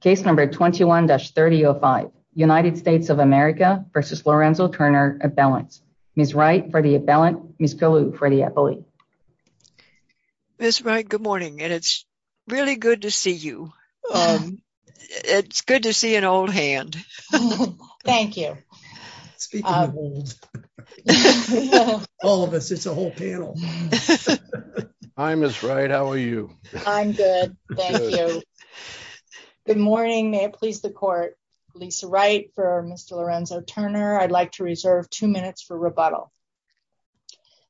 Case number 21-3005. United States of America versus Lorenzo Turner appellants. Ms. Wright for the appellant, Ms. Colu for the appellate. Ms. Wright, good morning and it's really good to see you. It's good to see an old hand. Thank you. All of us, it's a whole panel. Hi Ms. Wright, how are you? I'm good, thank you. Good morning, may it please the court. Lisa Wright for Mr. Lorenzo Turner. I'd like to reserve two minutes for rebuttal.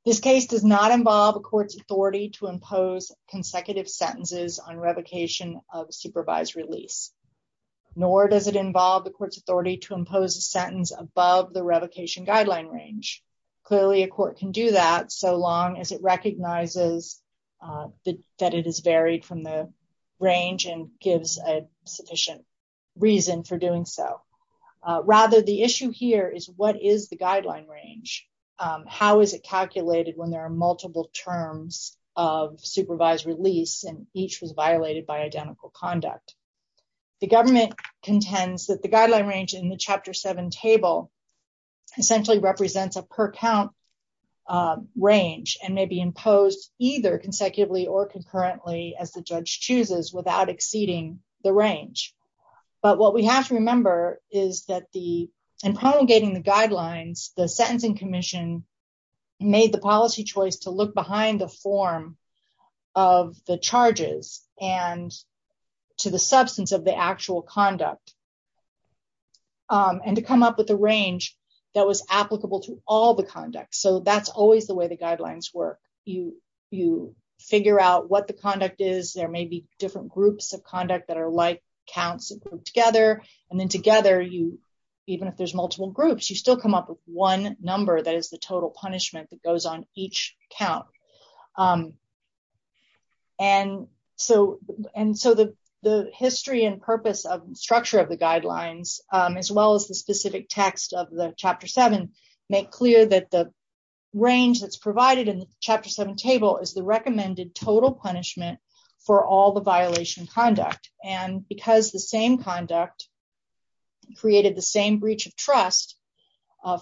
This case does not involve a court's authority to impose consecutive sentences on revocation of supervised release, nor does it involve the court's authority to impose a sentence above the revocation guideline range. Clearly a court can do that so long as it recognizes that it is varied from the range and gives a sufficient reason for doing so. Rather the issue here is what is the guideline range? How is it calculated when there are multiple terms of supervised release and each was violated by identical conduct? The government contends that the guideline range in the Chapter 7 table essentially represents a per count range and may be imposed either consecutively or concurrently as the judge chooses without exceeding the range. But what we have to remember is that in promulgating the guidelines, the Sentencing Commission made the policy choice to look behind the form of the charges and to the substance of the actual conduct and to come up with a range that was applicable to all conduct. So that's always the way the guidelines work. You figure out what the conduct is. There may be different groups of conduct that are like counts that work together. And then together, even if there's multiple groups, you still come up with one number that is the total punishment that goes on each count. And so the history and purpose of structure of the guidelines, as well as the specific text of the Chapter 7, make clear that the range that's provided in the Chapter 7 table is the recommended total punishment for all the violation conduct. And because the same conduct created the same breach of trust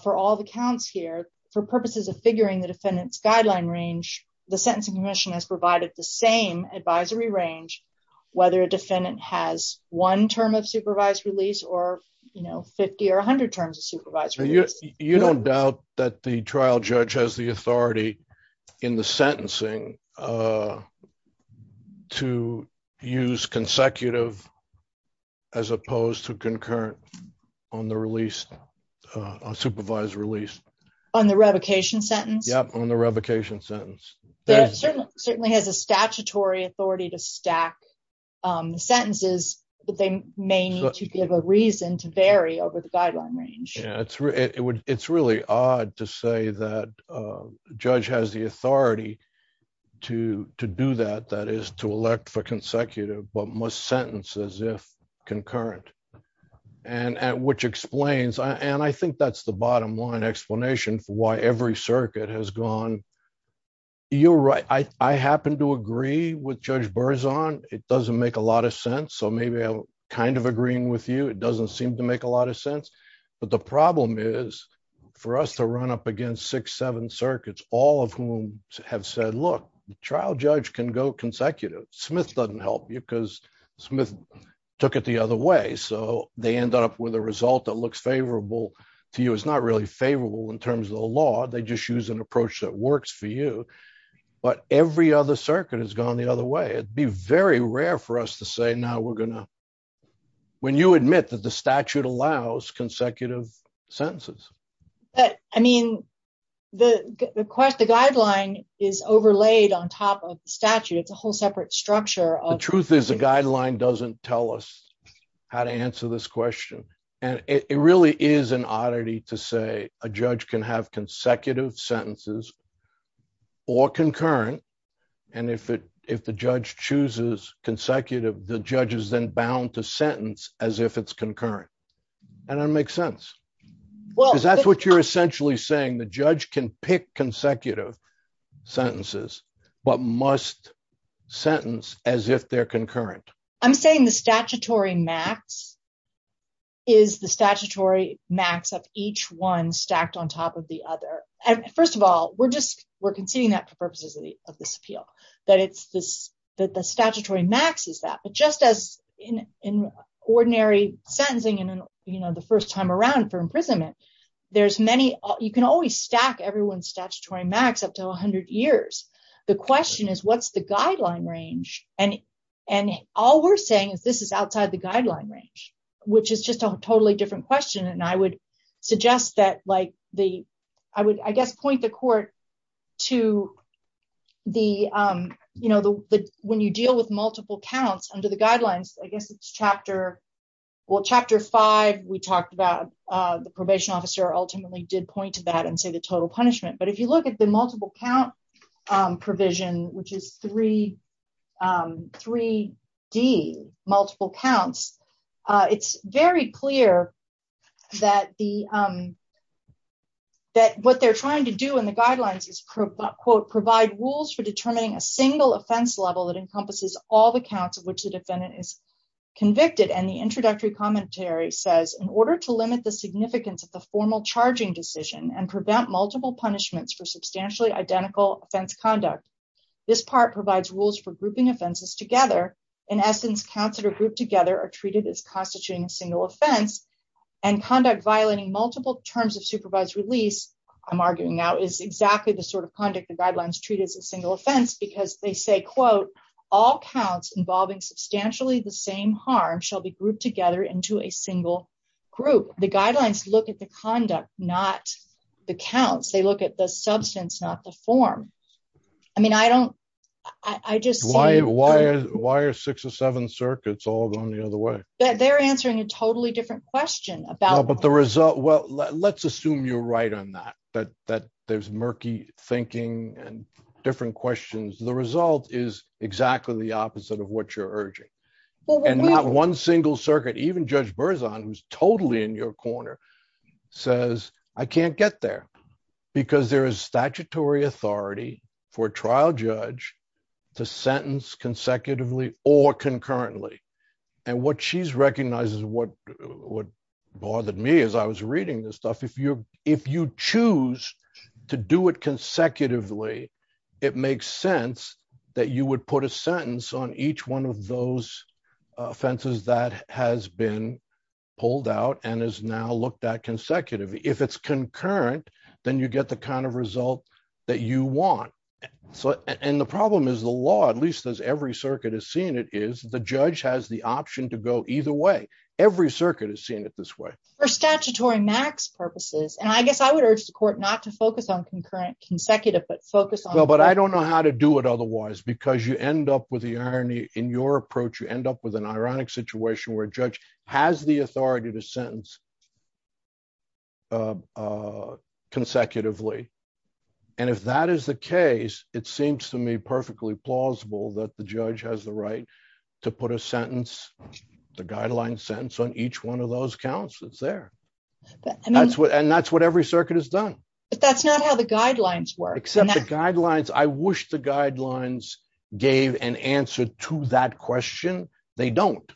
for all the counts here, for purposes of figuring the defendant's guideline range, the Sentencing Commission has provided the same advisory range whether a defendant has one term of supervised release or, you know, 50 or 100 terms of supervised release. You don't doubt that the trial judge has the authority in the sentencing to use consecutive as opposed to concurrent on the release, supervised release. On the revocation sentence? Yep, on the revocation sentence. It certainly has a statutory authority to stack the sentences, but they may need to give a reason to vary over the guideline range. It's really odd to say that a judge has the authority to do that, that is to elect for consecutive, but must sentence as if concurrent. And which explains, and I think that's the bottom explanation for why every circuit has gone, you're right, I happen to agree with Judge Berzon, it doesn't make a lot of sense, so maybe I'm kind of agreeing with you, it doesn't seem to make a lot of sense, but the problem is for us to run up against six, seven circuits, all of whom have said, look, the trial judge can go consecutive. Smith doesn't help you because Smith took it the other way, so they end up with a result that looks favorable to you. It's not really favorable in terms of the law, they just use an approach that works for you, but every other circuit has gone the other way. It'd be very rare for us to say, now we're going to, when you admit that the statute allows consecutive sentences. But, I mean, the guideline is overlaid on top of the statute, it's a whole separate structure. The truth is the guideline doesn't tell us how to answer this question, and it really is an oddity to say a judge can have consecutive sentences or concurrent, and if the judge chooses consecutive, the judge is then bound to sentence as if it's concurrent. And it makes sense, because that's what you're essentially saying, the judge can pick consecutive sentences, but must sentence as if they're concurrent. I'm saying the statutory max is the statutory max of each one stacked on top of the other. First of all, we're just, we're conceding that for purposes of this appeal, that it's this, that the statutory max is that, but just as in ordinary sentencing and, you know, the first time around for imprisonment, there's many, you can always stack everyone's statutory max up to 100 years. The question is, what's the guideline range? And all we're saying is this is outside the guideline range, which is just a totally different question, and I would suggest that, like, the, I would, I guess, point the court to the, you know, the, when you deal with multiple counts under the guidelines, I guess it's chapter, well, chapter five, we talked about the probation officer ultimately did point to that and say the total punishment, but if you look at the multiple count provision, which is 3D, multiple counts, it's very clear that the, that what they're trying to do in the guidelines is, quote, provide rules for determining a single offense level that encompasses all the counts of which the defendant is convicted, and the introductory commentary says, in order to limit the significance of the formal charging decision and prevent multiple punishments for substantially identical offense conduct, this part provides rules for grouping offenses together. In essence, counts that are grouped together are treated as constituting a single offense, and conduct violating multiple terms of supervised release, I'm arguing now, is exactly the sort of conduct the guidelines treat as a single offense, because they say, quote, all counts involving substantially the same harm shall be grouped together into a single group. The guidelines look at the conduct, not the counts. They look at the substance, not the form. I mean, I don't, I just. Why, why, why are six or seven circuits all going the other way? They're answering a totally different question about. But the result, well, let's assume you're right on that, that, that there's murky thinking and different questions. The result is exactly the opposite of what you're urging. And not one single circuit, even Judge Berzon, who's totally in your corner, says, I can't get there, because there is statutory authority for a trial judge to sentence consecutively or concurrently. And what she's If you, if you choose to do it consecutively, it makes sense that you would put a sentence on each one of those offenses that has been pulled out and is now looked at consecutively. If it's concurrent, then you get the kind of result that you want. So, and the problem is the law, at least as every circuit has seen it, is the judge has the option to go either way. Every circuit has seen it this way. For statutory max purposes, and I guess I would urge the court not to focus on concurrent consecutive but focus on- Well, but I don't know how to do it otherwise, because you end up with the irony in your approach, you end up with an ironic situation where a judge has the authority to sentence consecutively. And if that is the case, it seems to me perfectly plausible that the judge has the right to put a sentence, the guidelines sentence on each one of those counts that's there. And that's what every circuit has done. But that's not how the guidelines work. Except the guidelines, I wish the guidelines gave an answer to that question. They don't.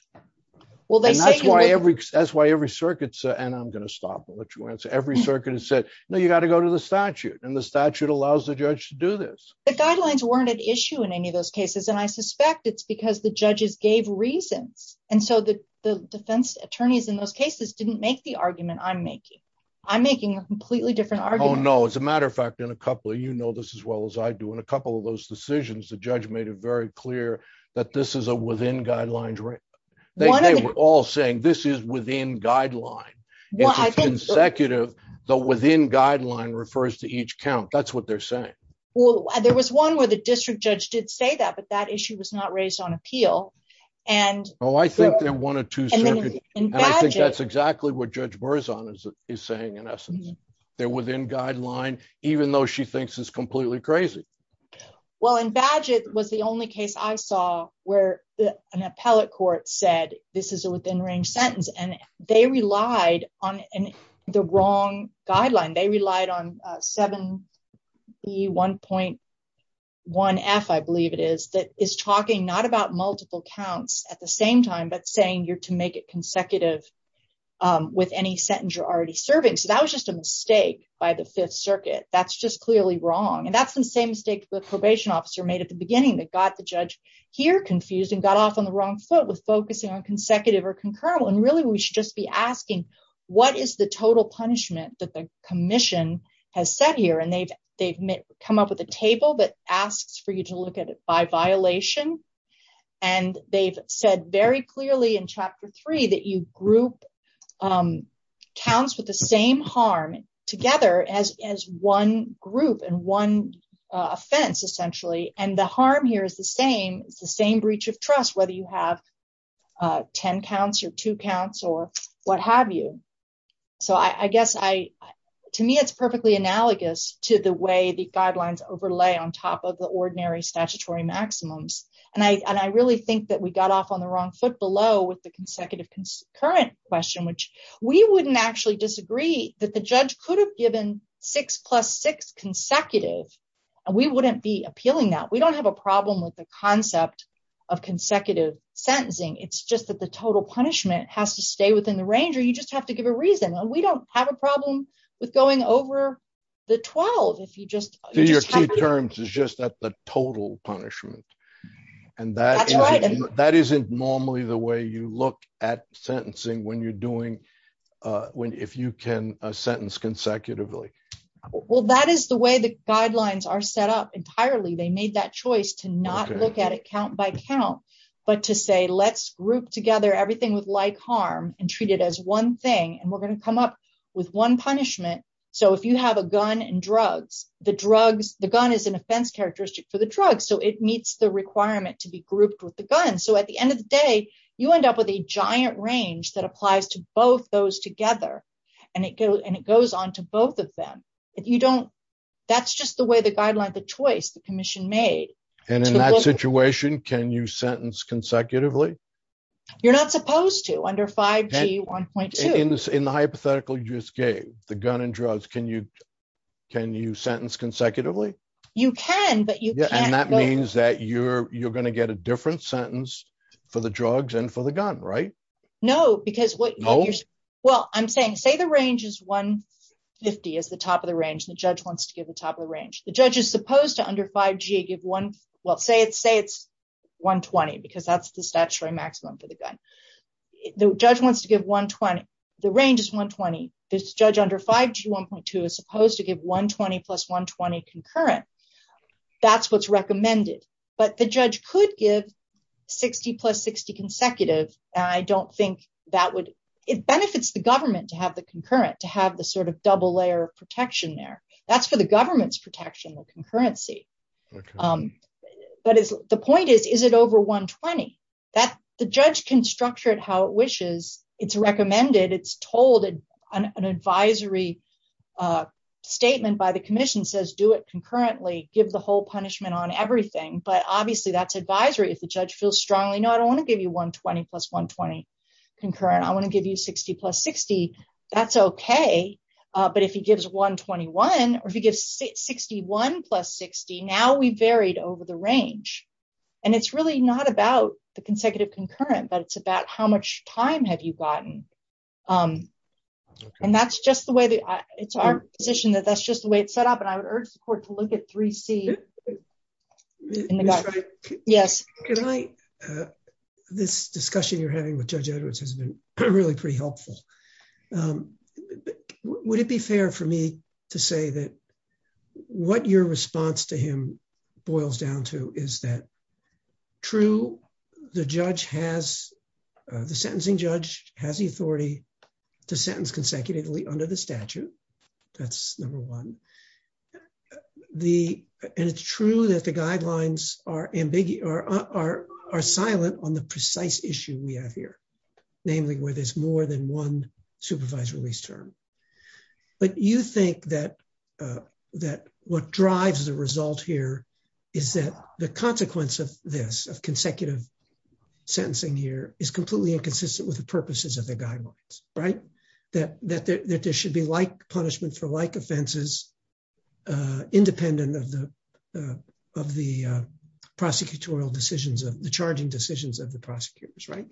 Well, that's why every circuit, and I'm going to stop and let you answer, every circuit has said, no, you got to go to the statute and the statute allows the judge to do this. The guidelines weren't at issue in any of those cases. And I suspect it's because the judges gave reasons. And so the defense attorneys in those cases didn't make the argument I'm making. I'm making a completely different argument. Oh, no. As a matter of fact, in a couple of, you know this as well as I do, in a couple of those decisions, the judge made it very clear that this is a within guidelines. They were all saying this is within guideline. Well, I think- It's consecutive, the within guideline refers to each count. That's what they're saying. Well, there was one where the district judge did say that, but that issue was not raised on appeal. And- Oh, I think they're one or two circuits. And then in Badgett- And I think that's exactly what Judge Burzon is saying in essence. They're within guideline, even though she thinks it's completely crazy. Well, in Badgett was the only case I saw where an appellate court said, this is a wrong guideline. They relied on 7E1.1F, I believe it is, that is talking not about multiple counts at the same time, but saying you're to make it consecutive with any sentence you're already serving. So that was just a mistake by the fifth circuit. That's just clearly wrong. And that's the same mistake the probation officer made at the beginning that got the judge here confused and got off on the wrong foot with focusing on consecutive or that the commission has set here. And they've come up with a table that asks for you to look at it by violation. And they've said very clearly in chapter three, that you group counts with the same harm together as one group and one offense essentially. And the harm here is the same. It's the same breach of trust, whether you have 10 counts or two counts or what have you. So I guess to me, it's perfectly analogous to the way the guidelines overlay on top of the ordinary statutory maximums. And I really think that we got off on the wrong foot below with the consecutive concurrent question, which we wouldn't actually disagree that the judge could have given six plus six consecutive and we wouldn't be appealing that. We don't have a problem with the concept of consecutive sentencing. It's just that the total punishment has to stay within the range or you just have to give a reason. And we don't have a problem with going over the 12. If you just- So your key terms is just that the total punishment. And that isn't normally the way you look at sentencing when you're doing, if you can sentence consecutively. Well, that is the way the guidelines are set up entirely. They made that choice to not look at it count by count, but to say, let's group together everything with like harm and treat it as one thing. And we're going to come up with one punishment. So if you have a gun and drugs, the gun is an offense characteristic for the drug. So it meets the requirement to be grouped with the gun. So at the end of the day, you end up with a giant range that applies to both those together. And it goes on to both of them. That's just the way the guideline, the choice, the commission made. And in that situation, can you sentence consecutively? You're not supposed to under 5G 1.2. In the hypothetical you just gave, the gun and drugs, can you sentence consecutively? You can, but you can't- And that means that you're going to get a different sentence for the drugs and for the gun, right? No, because what you're- No? Well, I'm saying, say the range is 150 is the top of the range and the judge wants to give the top range. The judge is supposed to under 5G give one, well, say it's 120 because that's the statutory maximum for the gun. The judge wants to give 120. The range is 120. This judge under 5G 1.2 is supposed to give 120 plus 120 concurrent. That's what's recommended, but the judge could give 60 plus 60 consecutive. And I don't think that would- It benefits the government to have the sort of double layer of protection there. That's for the government's protection, the concurrency. But the point is, is it over 120? The judge can structure it how it wishes. It's recommended. It's told, an advisory statement by the commission says, do it concurrently, give the whole punishment on everything. But obviously that's advisory. If the judge feels strongly, no, I don't want to give you 120 plus 120 concurrent. I want to give you 60 plus 60. That's okay. But if he gives 121 or if he gives 61 plus 60, now we varied over the range. And it's really not about the consecutive concurrent, but it's about how much time have you gotten. And that's just the way that- It's our position that that's just the way it's set up. And I would urge the court to look at 3C. Yes. This discussion you're having with Judge Edwards has been really pretty helpful. But would it be fair for me to say that what your response to him boils down to is that true, the sentencing judge has the authority to sentence consecutively under the statute. That's number one. And it's true that the guidelines are silent on the precise issue we have here, namely where there's more than one supervised release term. But you think that what drives the result here is that the consequence of this, of consecutive sentencing here is completely inconsistent with the purposes of the guidelines, right? That there should be like punishment for like offenses, independent of the prosecutorial the charging decisions of the prosecutors, right?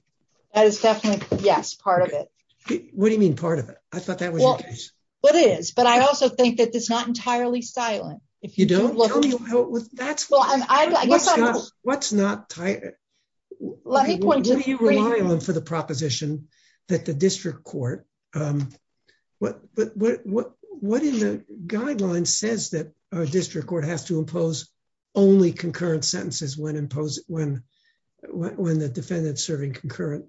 That is definitely, yes, part of it. What do you mean part of it? I thought that was the case. Well, it is, but I also think that it's not entirely silent. If you don't look at- Tell me how, that's- What's not- Let me point to- What do you rely on for the proposition that the district court, what in the guidelines says that our district court has to impose only concurrent sentences when the defendant's serving concurrent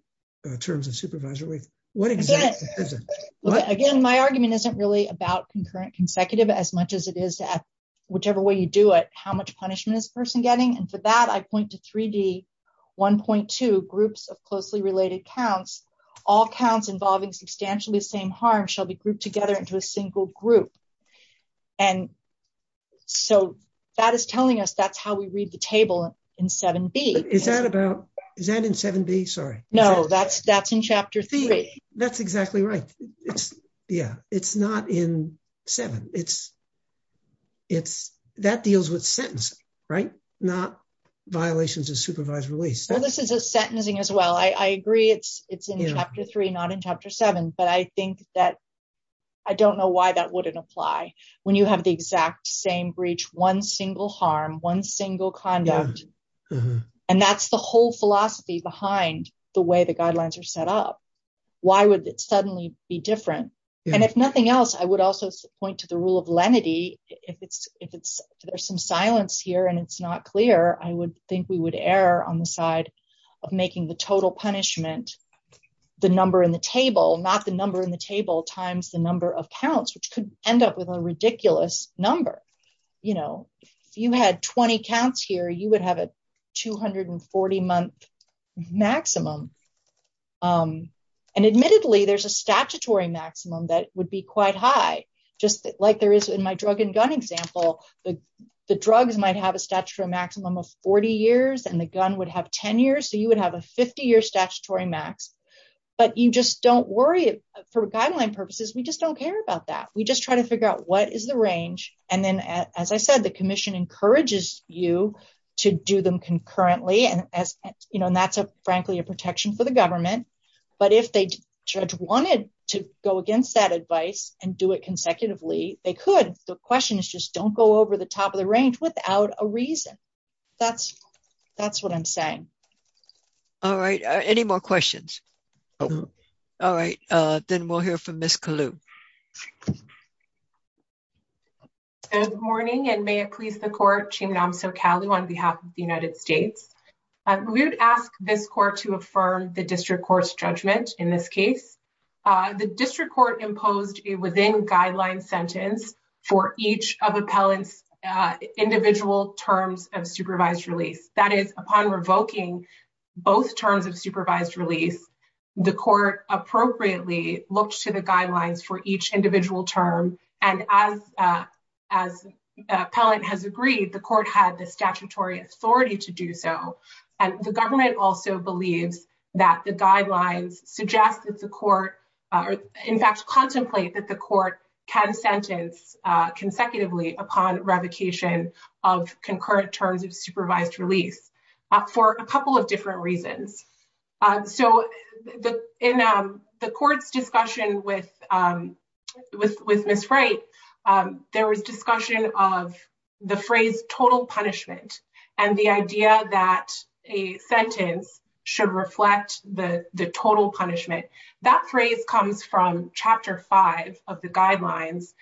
terms of supervisory? What exactly is it? Again, my argument isn't really about concurrent consecutive as much as it is that whichever way you do it, how much punishment is the person getting? And for that, I point to 3D 1.2, groups of closely related counts, all counts involving substantially the same harm shall be grouped together into a single group. And so that is telling us that's how we read the table in 7B. Is that about, is that in 7B? Sorry. No, that's in Chapter 3. That's exactly right. Yeah, it's not in 7. It's, that deals with sentence, right? Not violations of supervised release. Well, this is a sentencing as well. I agree it's in Chapter 3, not in Chapter 7, but I think that, I don't know why that wouldn't apply when you have the exact same breach, one single harm, one single conduct. And that's the whole philosophy behind the way the guidelines are set up. Why would it suddenly be different? And if nothing else, I would also point to the rule of lenity. If it's, if it's, there's some silence here and it's not clear, I would think we would err on the side of making the total punishment, the number in the table, not the number in the table times the number of counts, which could end up with a ridiculous number. You know, if you had 20 counts here, you would have a 240 month maximum. And admittedly, there's a statutory maximum that would be quite high, just like there is in my drug and gun example. The drugs might have a statutory maximum of 40 years and the gun would have 10 years. So you would have a 50 year statutory max, but you just don't worry for guideline purposes. We just don't care about that. We just try to figure out what is the range. And then, as I said, the commission encourages you to do them concurrently. And as you know, and that's a, frankly, a protection for the government. But if they wanted to go against that advice and do it consecutively, they could. The question is just don't go over the top of the range without a reason. That's what I'm saying. All right. Any more questions? All right. Then we'll hear from Ms. Kalou. Good morning, and may it please the court, Chim Namso Kalou on behalf of the United States. We would ask this court to affirm the district court's judgment in this case. The district court imposed a within guideline sentence for each of appellant's individual terms of supervised release. That is, upon revoking both terms of supervised release, the court appropriately looked to the guidelines for each individual term. And as appellant has agreed, the court had the statutory authority to do so. And the government also believes that the guidelines suggest that the court, in fact, contemplate that the court can sentence consecutively upon revocation of concurrent terms of supervised release for a couple of different reasons. So in the court's discussion with Ms. Wright, there was discussion of the phrase total punishment and the idea that a sentence should reflect the total punishment. That phrase comes from Chapter 5 of the guidelines,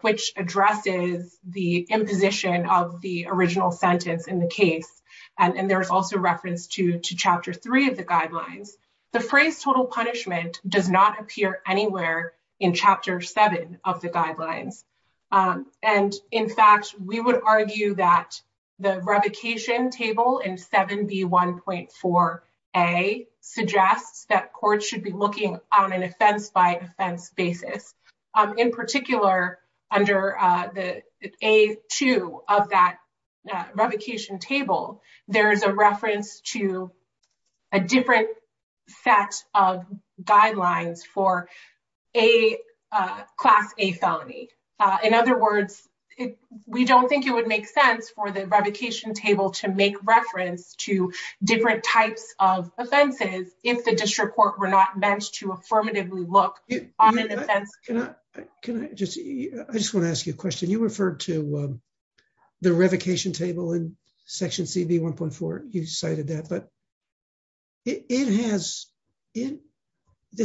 which addresses the imposition of the original sentence in the case. And there's also reference to Chapter 3 of the guidelines. The phrase total punishment does not appear anywhere in Chapter 7 of the guidelines. And in fact, we would argue that the revocation table in 7B1.4A suggests that courts should be looking on an offense-by-offense basis. In particular, under the A2 of that revocation table, there is a reference to a different set of guidelines for a Class A felony. In other words, we don't think it would make sense for the revocation table to make reference to different types of offenses if the district court were not meant to affirmatively look on an offense-by-offense basis. I just want to ask you a question. You referred to the revocation table in Section 7B1.4. You cited that, but there's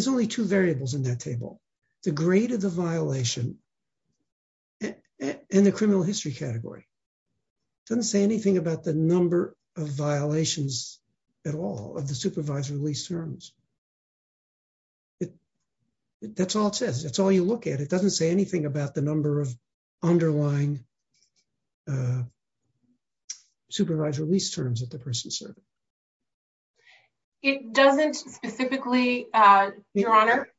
only two variables in that table, the grade of the violation and the criminal history category. It doesn't say anything about the number of violations at all of the supervisory lease terms. That's all it says. That's all you look at. It doesn't say anything about the number of underlying supervisory lease terms that the person served. It doesn't specifically, Your Honor.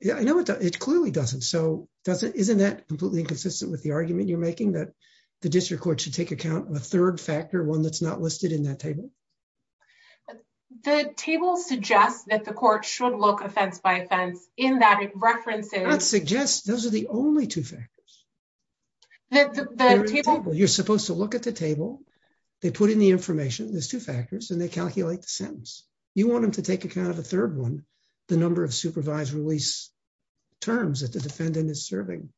It clearly doesn't. Isn't that completely inconsistent with the argument you're making that the district court should take account of a third factor, one that's not listed in that table? The table suggests that the court should look offense-by-offense in that it references... It does not suggest. Those are the only two factors. The table... You're supposed to look at the table. They put in the information. There's two factors, and they calculate the sentence. You want them to take account of a third one, the number of supervisory lease terms that the defendant is serving.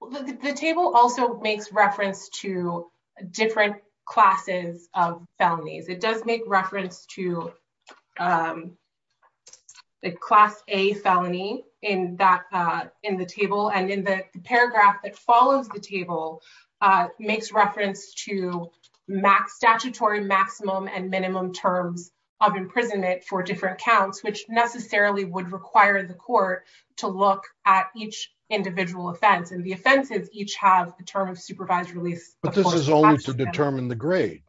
The table also makes reference to different classes of felonies. It does make reference to the class A felony in the table. In the paragraph that follows the table, makes reference to statutory maximum and minimum terms of imprisonment for different counts, which necessarily would require the court to look at each individual offense. The offenses each have a term of supervised release. But this is only to determine the grade.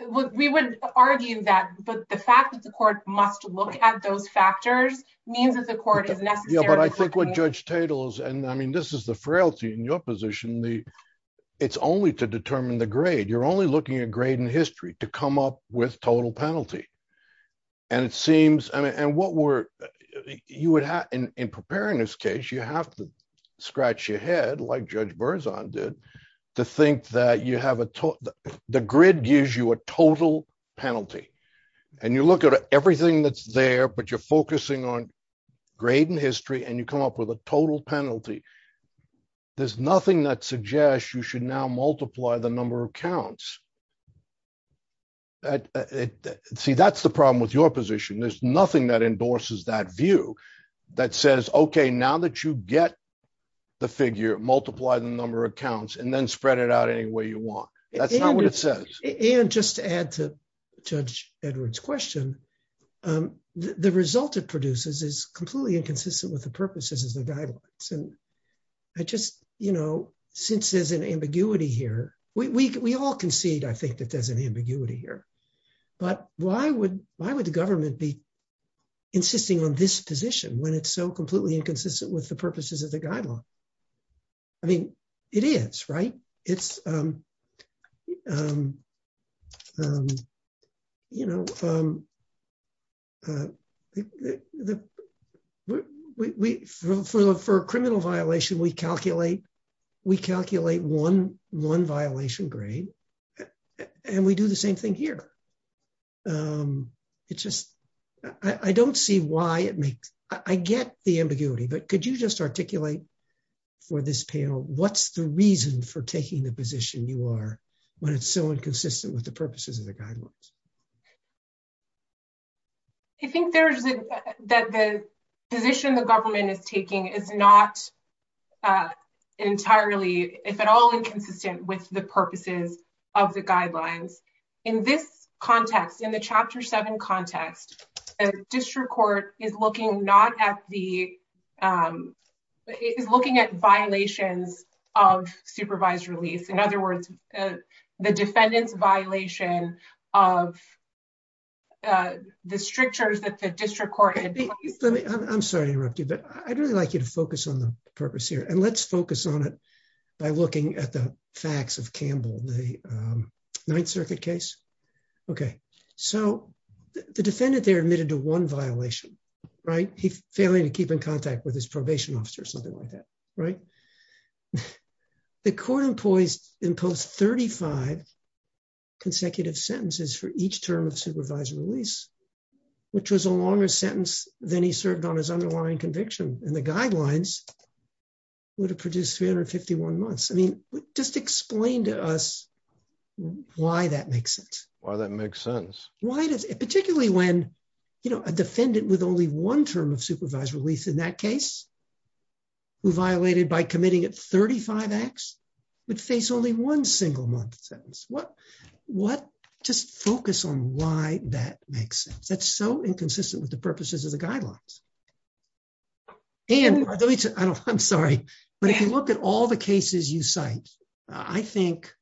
Well, we would argue that, but the fact that the court must look at those factors means that the court is necessarily... Yeah, but I think what Judge Tatel is... And I mean, this is the frailty in your position. It's only to determine the grade. You're only looking at grade in history to come up with total penalty. And it seems... And what we're... In preparing this case, you have to do to think that you have... The grid gives you a total penalty and you look at everything that's there, but you're focusing on grade and history and you come up with a total penalty. There's nothing that suggests you should now multiply the number of counts. See, that's the problem with your position. There's nothing that endorses that view that says, okay, now that you get the figure, multiply the number of counts and then spread it out any way you want. That's not what it says. And just to add to Judge Edward's question, the result it produces is completely inconsistent with the purposes of the guidelines. And since there's an ambiguity here, we all concede, I think, that there's an ambiguity here, but why would the government be insisting on this position when it's so completely inconsistent with the purposes of the guideline? I mean, it is, right? It's... For a criminal violation, we calculate one violation grade and we do the same thing here. It's just... I don't see why it makes... I get the ambiguity, but could you just articulate for this panel, what's the reason for taking the position you are when it's so inconsistent with the purposes of the guidelines? I think that the position the government is taking is not entirely, if at all, inconsistent with the purposes of the guidelines. In this context, in the Chapter 7 context, a district court is looking at violations of supervised release. In other words, the defendant's violation of the strictures that the district court... I'm sorry to interrupt you, but I'd really like you to focus on the purpose here. And let's focus on it by looking at the facts of Campbell, the Ninth Circuit case. Okay. So, the defendant there admitted to one violation, right? He's failing to keep in contact with his probation officer, something like that, right? The court employees imposed 35 consecutive sentences for each term of supervised release, which was a longer sentence than he served on his underlying conviction. And the guidelines would have produced 351 months. I mean, just explain to us why that makes sense. Why that makes sense? Why does... Particularly when a defendant with only one term of supervised release in that case who violated by committing at 35 acts would face only one single month sentence. What... Why that makes sense? That's so inconsistent with the purposes of the guidelines. And I'm sorry, but if you look at all the cases you cite, I think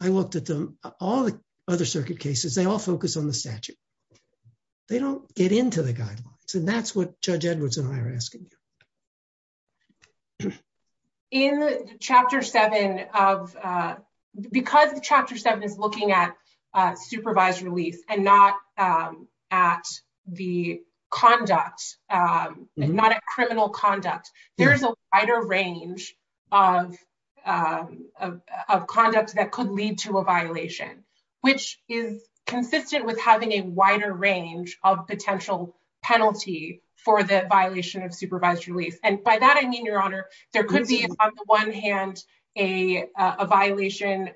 I looked at them, all the other circuit cases, they all focus on the statute. They don't get into the guidelines. And that's what Judge Edwards and I are asking you. In Chapter 7 of... Because Chapter 7 is looking at supervised release and not at the conduct, not at criminal conduct, there's a wider range of conduct that could lead to a violation, which is consistent with having a wider range of potential penalty for the violation of the statute. There could be, on the one hand, a violation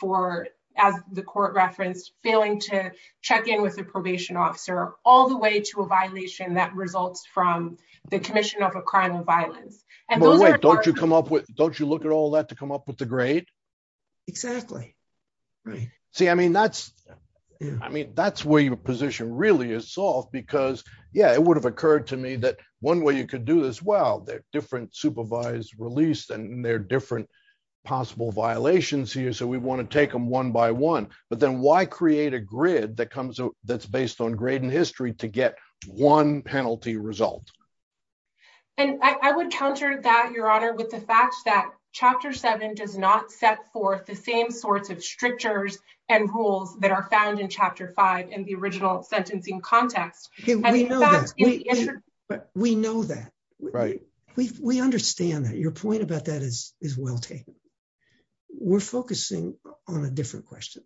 for, as the court referenced, failing to check in with a probation officer, all the way to a violation that results from the commission of a crime of violence. But wait, don't you come up with... Don't you look at all that to come up with the grade? Exactly. See, I mean, that's where your position really is solved because, yeah, it would have occurred to me that one way you could do this, well, there are different supervised release and there are different possible violations here, so we want to take them one by one. But then why create a grid that's based on grade and history to get one penalty result? And I would counter that, Your Honor, with the fact that Chapter 7 does not set forth the same sorts of strictures and rules that are found in Chapter 5 in the original sentencing context. We know that. We understand that. Your point about that is well taken. We're focusing on a different question,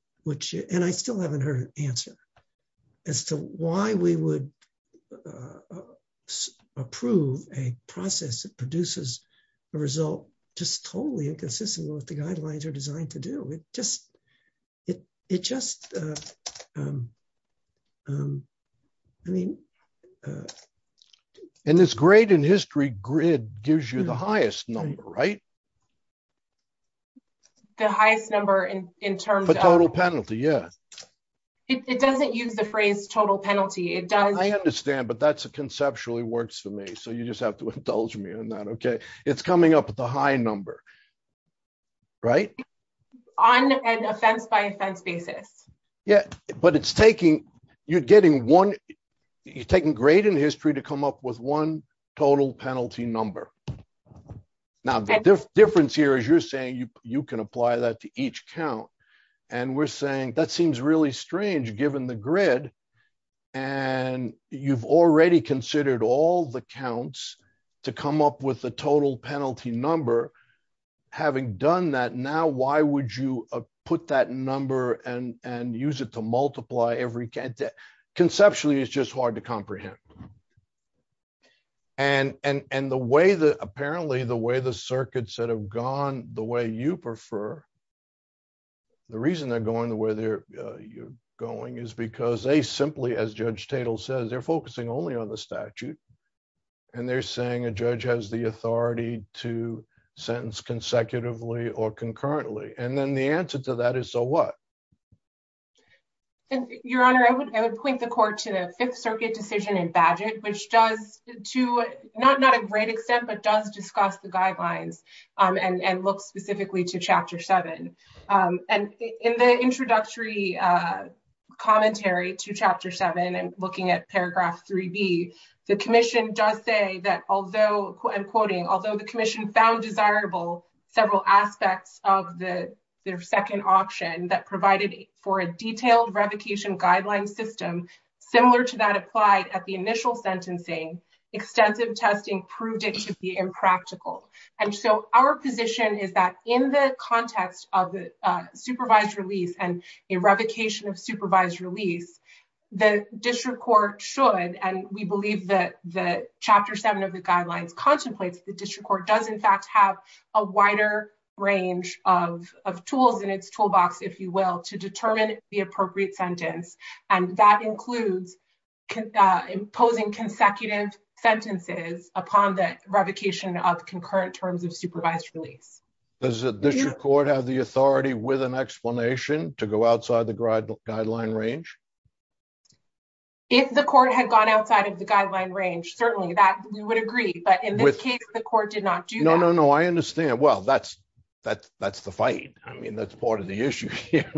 and I still haven't heard an answer as to why we would approve a process that produces a result just totally inconsistent with the guidelines are designed to do. It just... I mean... And this grade and history grid gives you the highest number, right? The highest number in terms of... The total penalty, yeah. It doesn't use the phrase total penalty. It does... I understand, but that's a conceptual. It works for me, so you just have to indulge me on that, it's coming up at the high number, right? On an offense-by-offense basis. Yeah, but it's taking... You're getting one... You're taking grade and history to come up with one total penalty number. Now, the difference here is you're saying you can apply that to each count, and you've already considered all the counts to come up with the total penalty number. Having done that, now why would you put that number and use it to multiply every... Conceptually, it's just hard to comprehend. And the way that... Apparently, the way the circuits that have gone the way you prefer... The reason they're going the way you're going is because they simply, as Judge Tatel says, they're focusing only on the statute. And they're saying a judge has the authority to sentence consecutively or concurrently. And then the answer to that is, so what? And Your Honor, I would point the court to the Fifth Circuit decision in Bagehot, which does to not a great extent, but does discuss the guidelines and look specifically to Chapter 7. And in the introductory commentary to Chapter 7 and looking at Paragraph 3B, the commission does say that although... I'm quoting, although the commission found desirable several aspects of their second option that provided for a detailed revocation guideline system, similar to that applied at the initial sentencing, extensive testing proved it to be impractical. And so our position is that in the context of the supervised release and a revocation of supervised release, the district court should, and we believe that the Chapter 7 of the guidelines contemplates the district court does in fact have a wider range of tools in its toolbox, if you will, to determine the appropriate sentence. And that includes imposing consecutive sentences upon the revocation of concurrent terms of supervised release. Does the district court have the authority with an explanation to go outside the guideline range? If the court had gone outside of the guideline range, certainly that we would agree, but in this case, the court did not do that. No, no, no. I understand. Well, that's the fight. I mean, that's part of the issue here,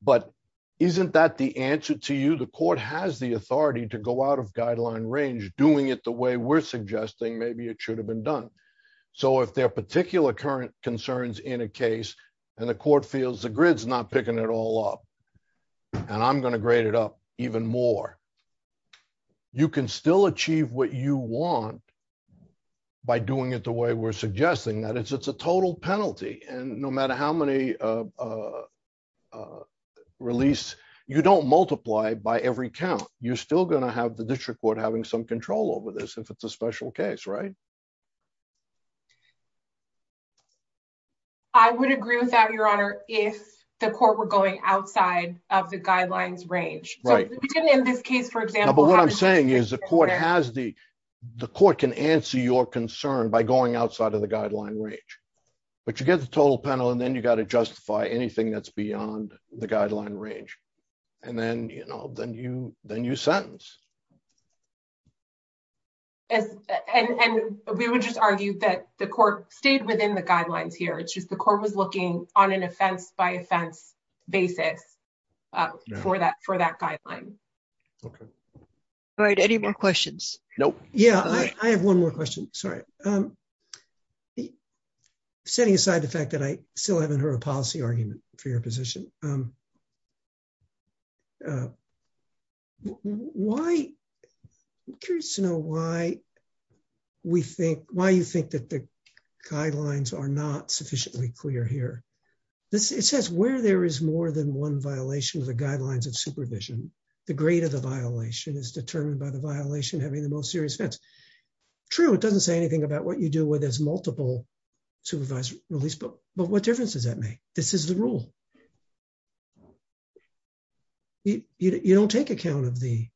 but isn't that the answer to you? The court has the authority to go out of guideline range, doing it the way we're suggesting maybe it should have been done. So if there are particular current concerns in a case and the court feels the grid's not picking it all up, and I'm going to grade it up even more, you can still achieve what you want by doing it the way we're suggesting that it's a total penalty. And no matter how many release, you don't multiply by every count. You're still going to have the district court having some control over this if it's a special case, right? I would agree with that, Your Honor, if the court were going outside of the guidelines range. In this case, for example. But what I'm saying is the court can answer your concern by going outside of the guideline range, but you get the total penalty, and then you got to justify anything that's beyond the guideline range. And then you sentence. And we would just argue that the court stayed within the guidelines here. It's just the court was looking on an offense by offense basis for that guideline. Okay. All right. Any more questions? Nope. Yeah. I have one more question. Sorry. Setting aside the fact that I still haven't heard a policy argument for your position, I'm curious to know why you think that the guidelines are not sufficiently clear here. It says where there is more than one violation of the guidelines of supervision, the grade of the violation is determined by the violation having the most serious offense. True, it doesn't say anything about what you do where there's multiple supervised release, but what difference does that make? This is the rule. You don't take account of the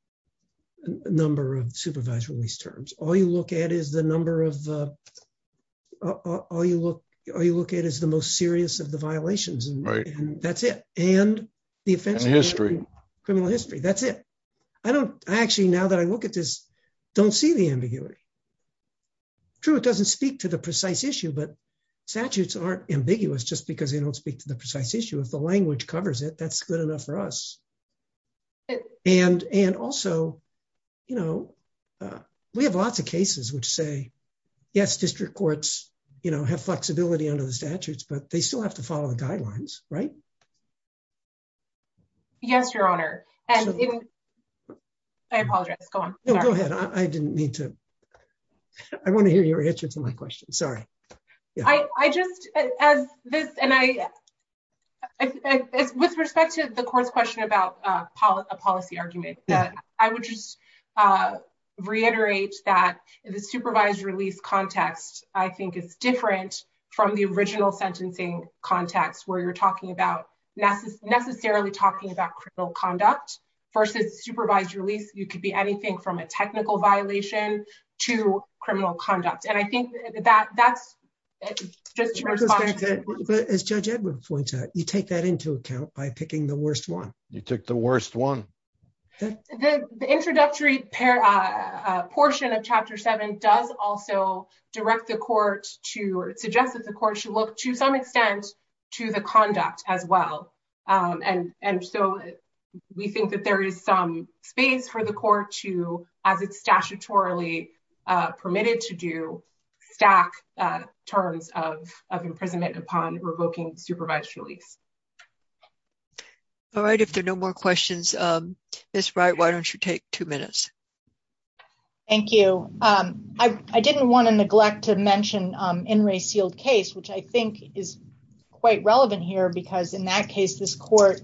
number of supervised release terms. All you look at is the number of... All you look at is the most serious of the violations, and that's it. And the offense- And history. Criminal history. That's it. I actually, now that I look at this, don't see the ambiguity. True, it doesn't speak to the precise issue, but statutes aren't ambiguous just because they don't speak to the precise issue. If the language covers it, that's good enough for us. And also, you know, we have lots of cases which say, yes, district courts have flexibility under the statutes, but they still have to follow the guidelines, right? Yes, Your Honor. And I apologize. Go on. No, go ahead. I didn't mean to... I want to hear your answer to my question. Sorry. I just... With respect to the court's question about a policy argument, I would just reiterate that the supervised release context, I think, is different from the original sentencing context where you're necessarily talking about criminal conduct versus supervised release. You could be anything from a technical violation to criminal conduct. And I think that that's just your response. As Judge Edwards points out, you take that into account by picking the worst one. You took the worst one. The introductory portion of Chapter 7 does also direct the court to... It suggests that the court should look, to some extent, to the conduct as well. And so, we think that there is some space for the court to, as it's statutorily permitted to do, stack terms of imprisonment upon revoking supervised release. All right. If there are no more questions, Ms. Wright, why don't you take two minutes? Thank you. I didn't want to neglect to mention In re Sealed Case, which I think is quite relevant here because, in that case, this court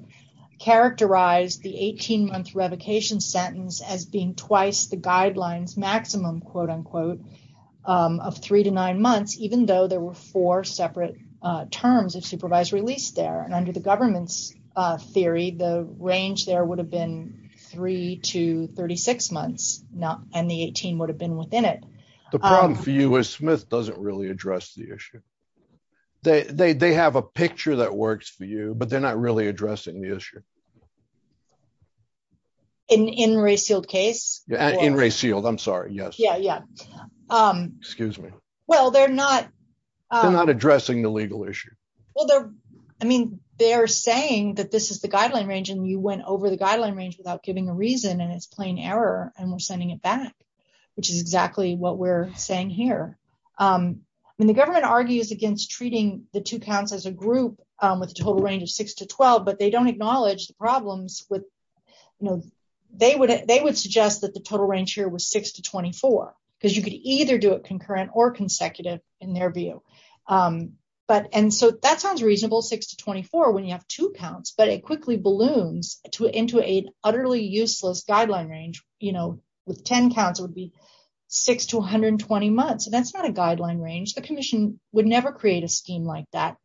characterized the 18-month revocation sentence as being twice the guidelines maximum, quote unquote, of three to nine months, even though there were four separate terms of supervised release there. And under the government's theory, the range there would have been three to 36 months, and the 18 would have been within it. The problem for you is Smith doesn't really address the issue. They have a picture that works for you, but they're not really addressing the issue. In re Sealed Case? In re Sealed. I'm sorry. Yes. Yeah, yeah. Excuse me. Well, they're not... They're not addressing the legal issue. Well, they're... I mean, they're saying that this is the guideline range, and you went over the guideline range without giving a reason, and it's plain error, and we're sending it back, which is exactly what we're saying here. I mean, the government argues against treating the two counts as a group with a total range of six to 12, but they don't acknowledge the problems with... They would suggest that the total range here was six to 24, because you could either do it concurrent or consecutive in their view. And so that sounds reasonable, six to 24, when you have two counts, but it quickly balloons into an utterly useless guideline range with 10 counts, it would be six to 120 months. And that's not a guideline range. The commission would never create a scheme like that.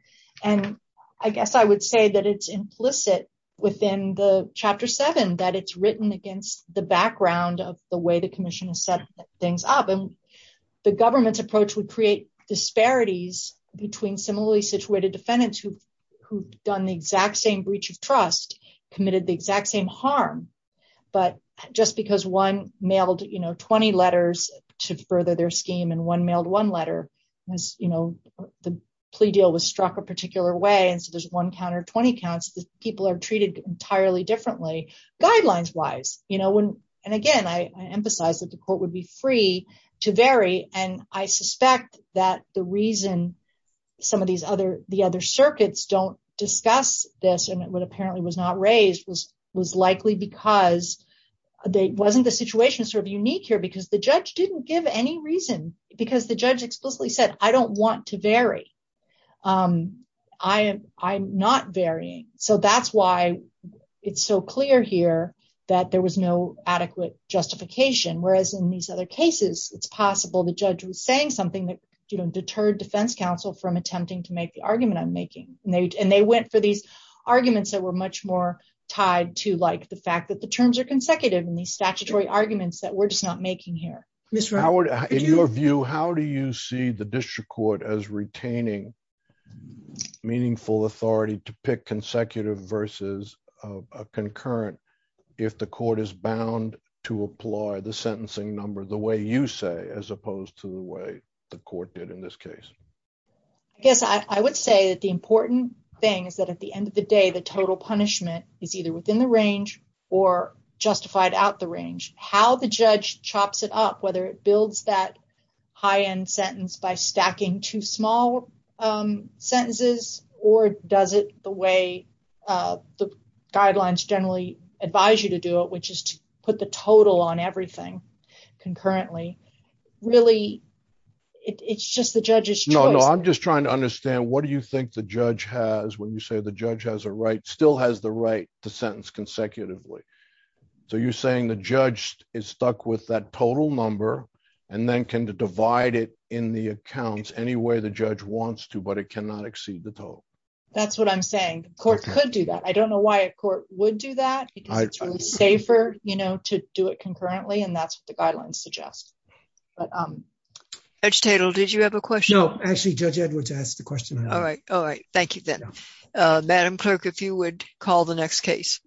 And I guess I would say that it's implicit within the chapter seven, that it's written against the background of the way the commission has set things up. And the government's approach would create disparities between similarly situated defendants who've done the exact same breach of trust, committed the exact same harm, but just because one mailed 20 letters to further their scheme, and one mailed one letter, the plea deal was struck a particular way. And so there's one count or 20 counts that people are treated entirely differently guidelines wise. And again, I emphasize that the court would be free to vary. And I suspect that the reason some of the other circuits don't discuss this, it would apparently was not raised was likely because they wasn't the situation sort of unique here, because the judge didn't give any reason, because the judge explicitly said, I don't want to vary. I'm not varying. So that's why it's so clear here that there was no adequate justification, whereas in these other cases, it's possible the judge was saying something that, you know, deterred defense counsel from attempting to make the argument I'm making. And they went for these arguments that were much more tied to like the fact that the terms are consecutive and the statutory arguments that we're just not making here. Mr. Howard, in your view, how do you see the district court as retaining meaningful authority to pick consecutive versus a concurrent, if the court is bound to apply the sentencing number the way you say as opposed to the way the court did in this case? I guess I would say that the important thing is that at the end of the day, the total punishment is either within the range or justified out the range, how the judge chops it up, whether it builds that high end sentence by stacking two small sentences, or does it the way the guidelines generally advise you to do it, which is to put the total on everything concurrently. Really, it's just the judges. No, no, I'm just trying to understand what do you think the judge has when you say the judge has a right still has the right to sentence consecutively. So you're saying the judge is stuck with that total number, and then can divide it in the accounts any way the judge wants to, but it cannot exceed the total. That's what I'm saying. Court could do that. I don't know why a court would do that. It's safer, you know, to do it concurrently. And that's what Edge Tittle, did you have a question? No, actually, Judge Edwards asked the question. All right. All right. Thank you, then. Madam Clerk, if you would call the next case.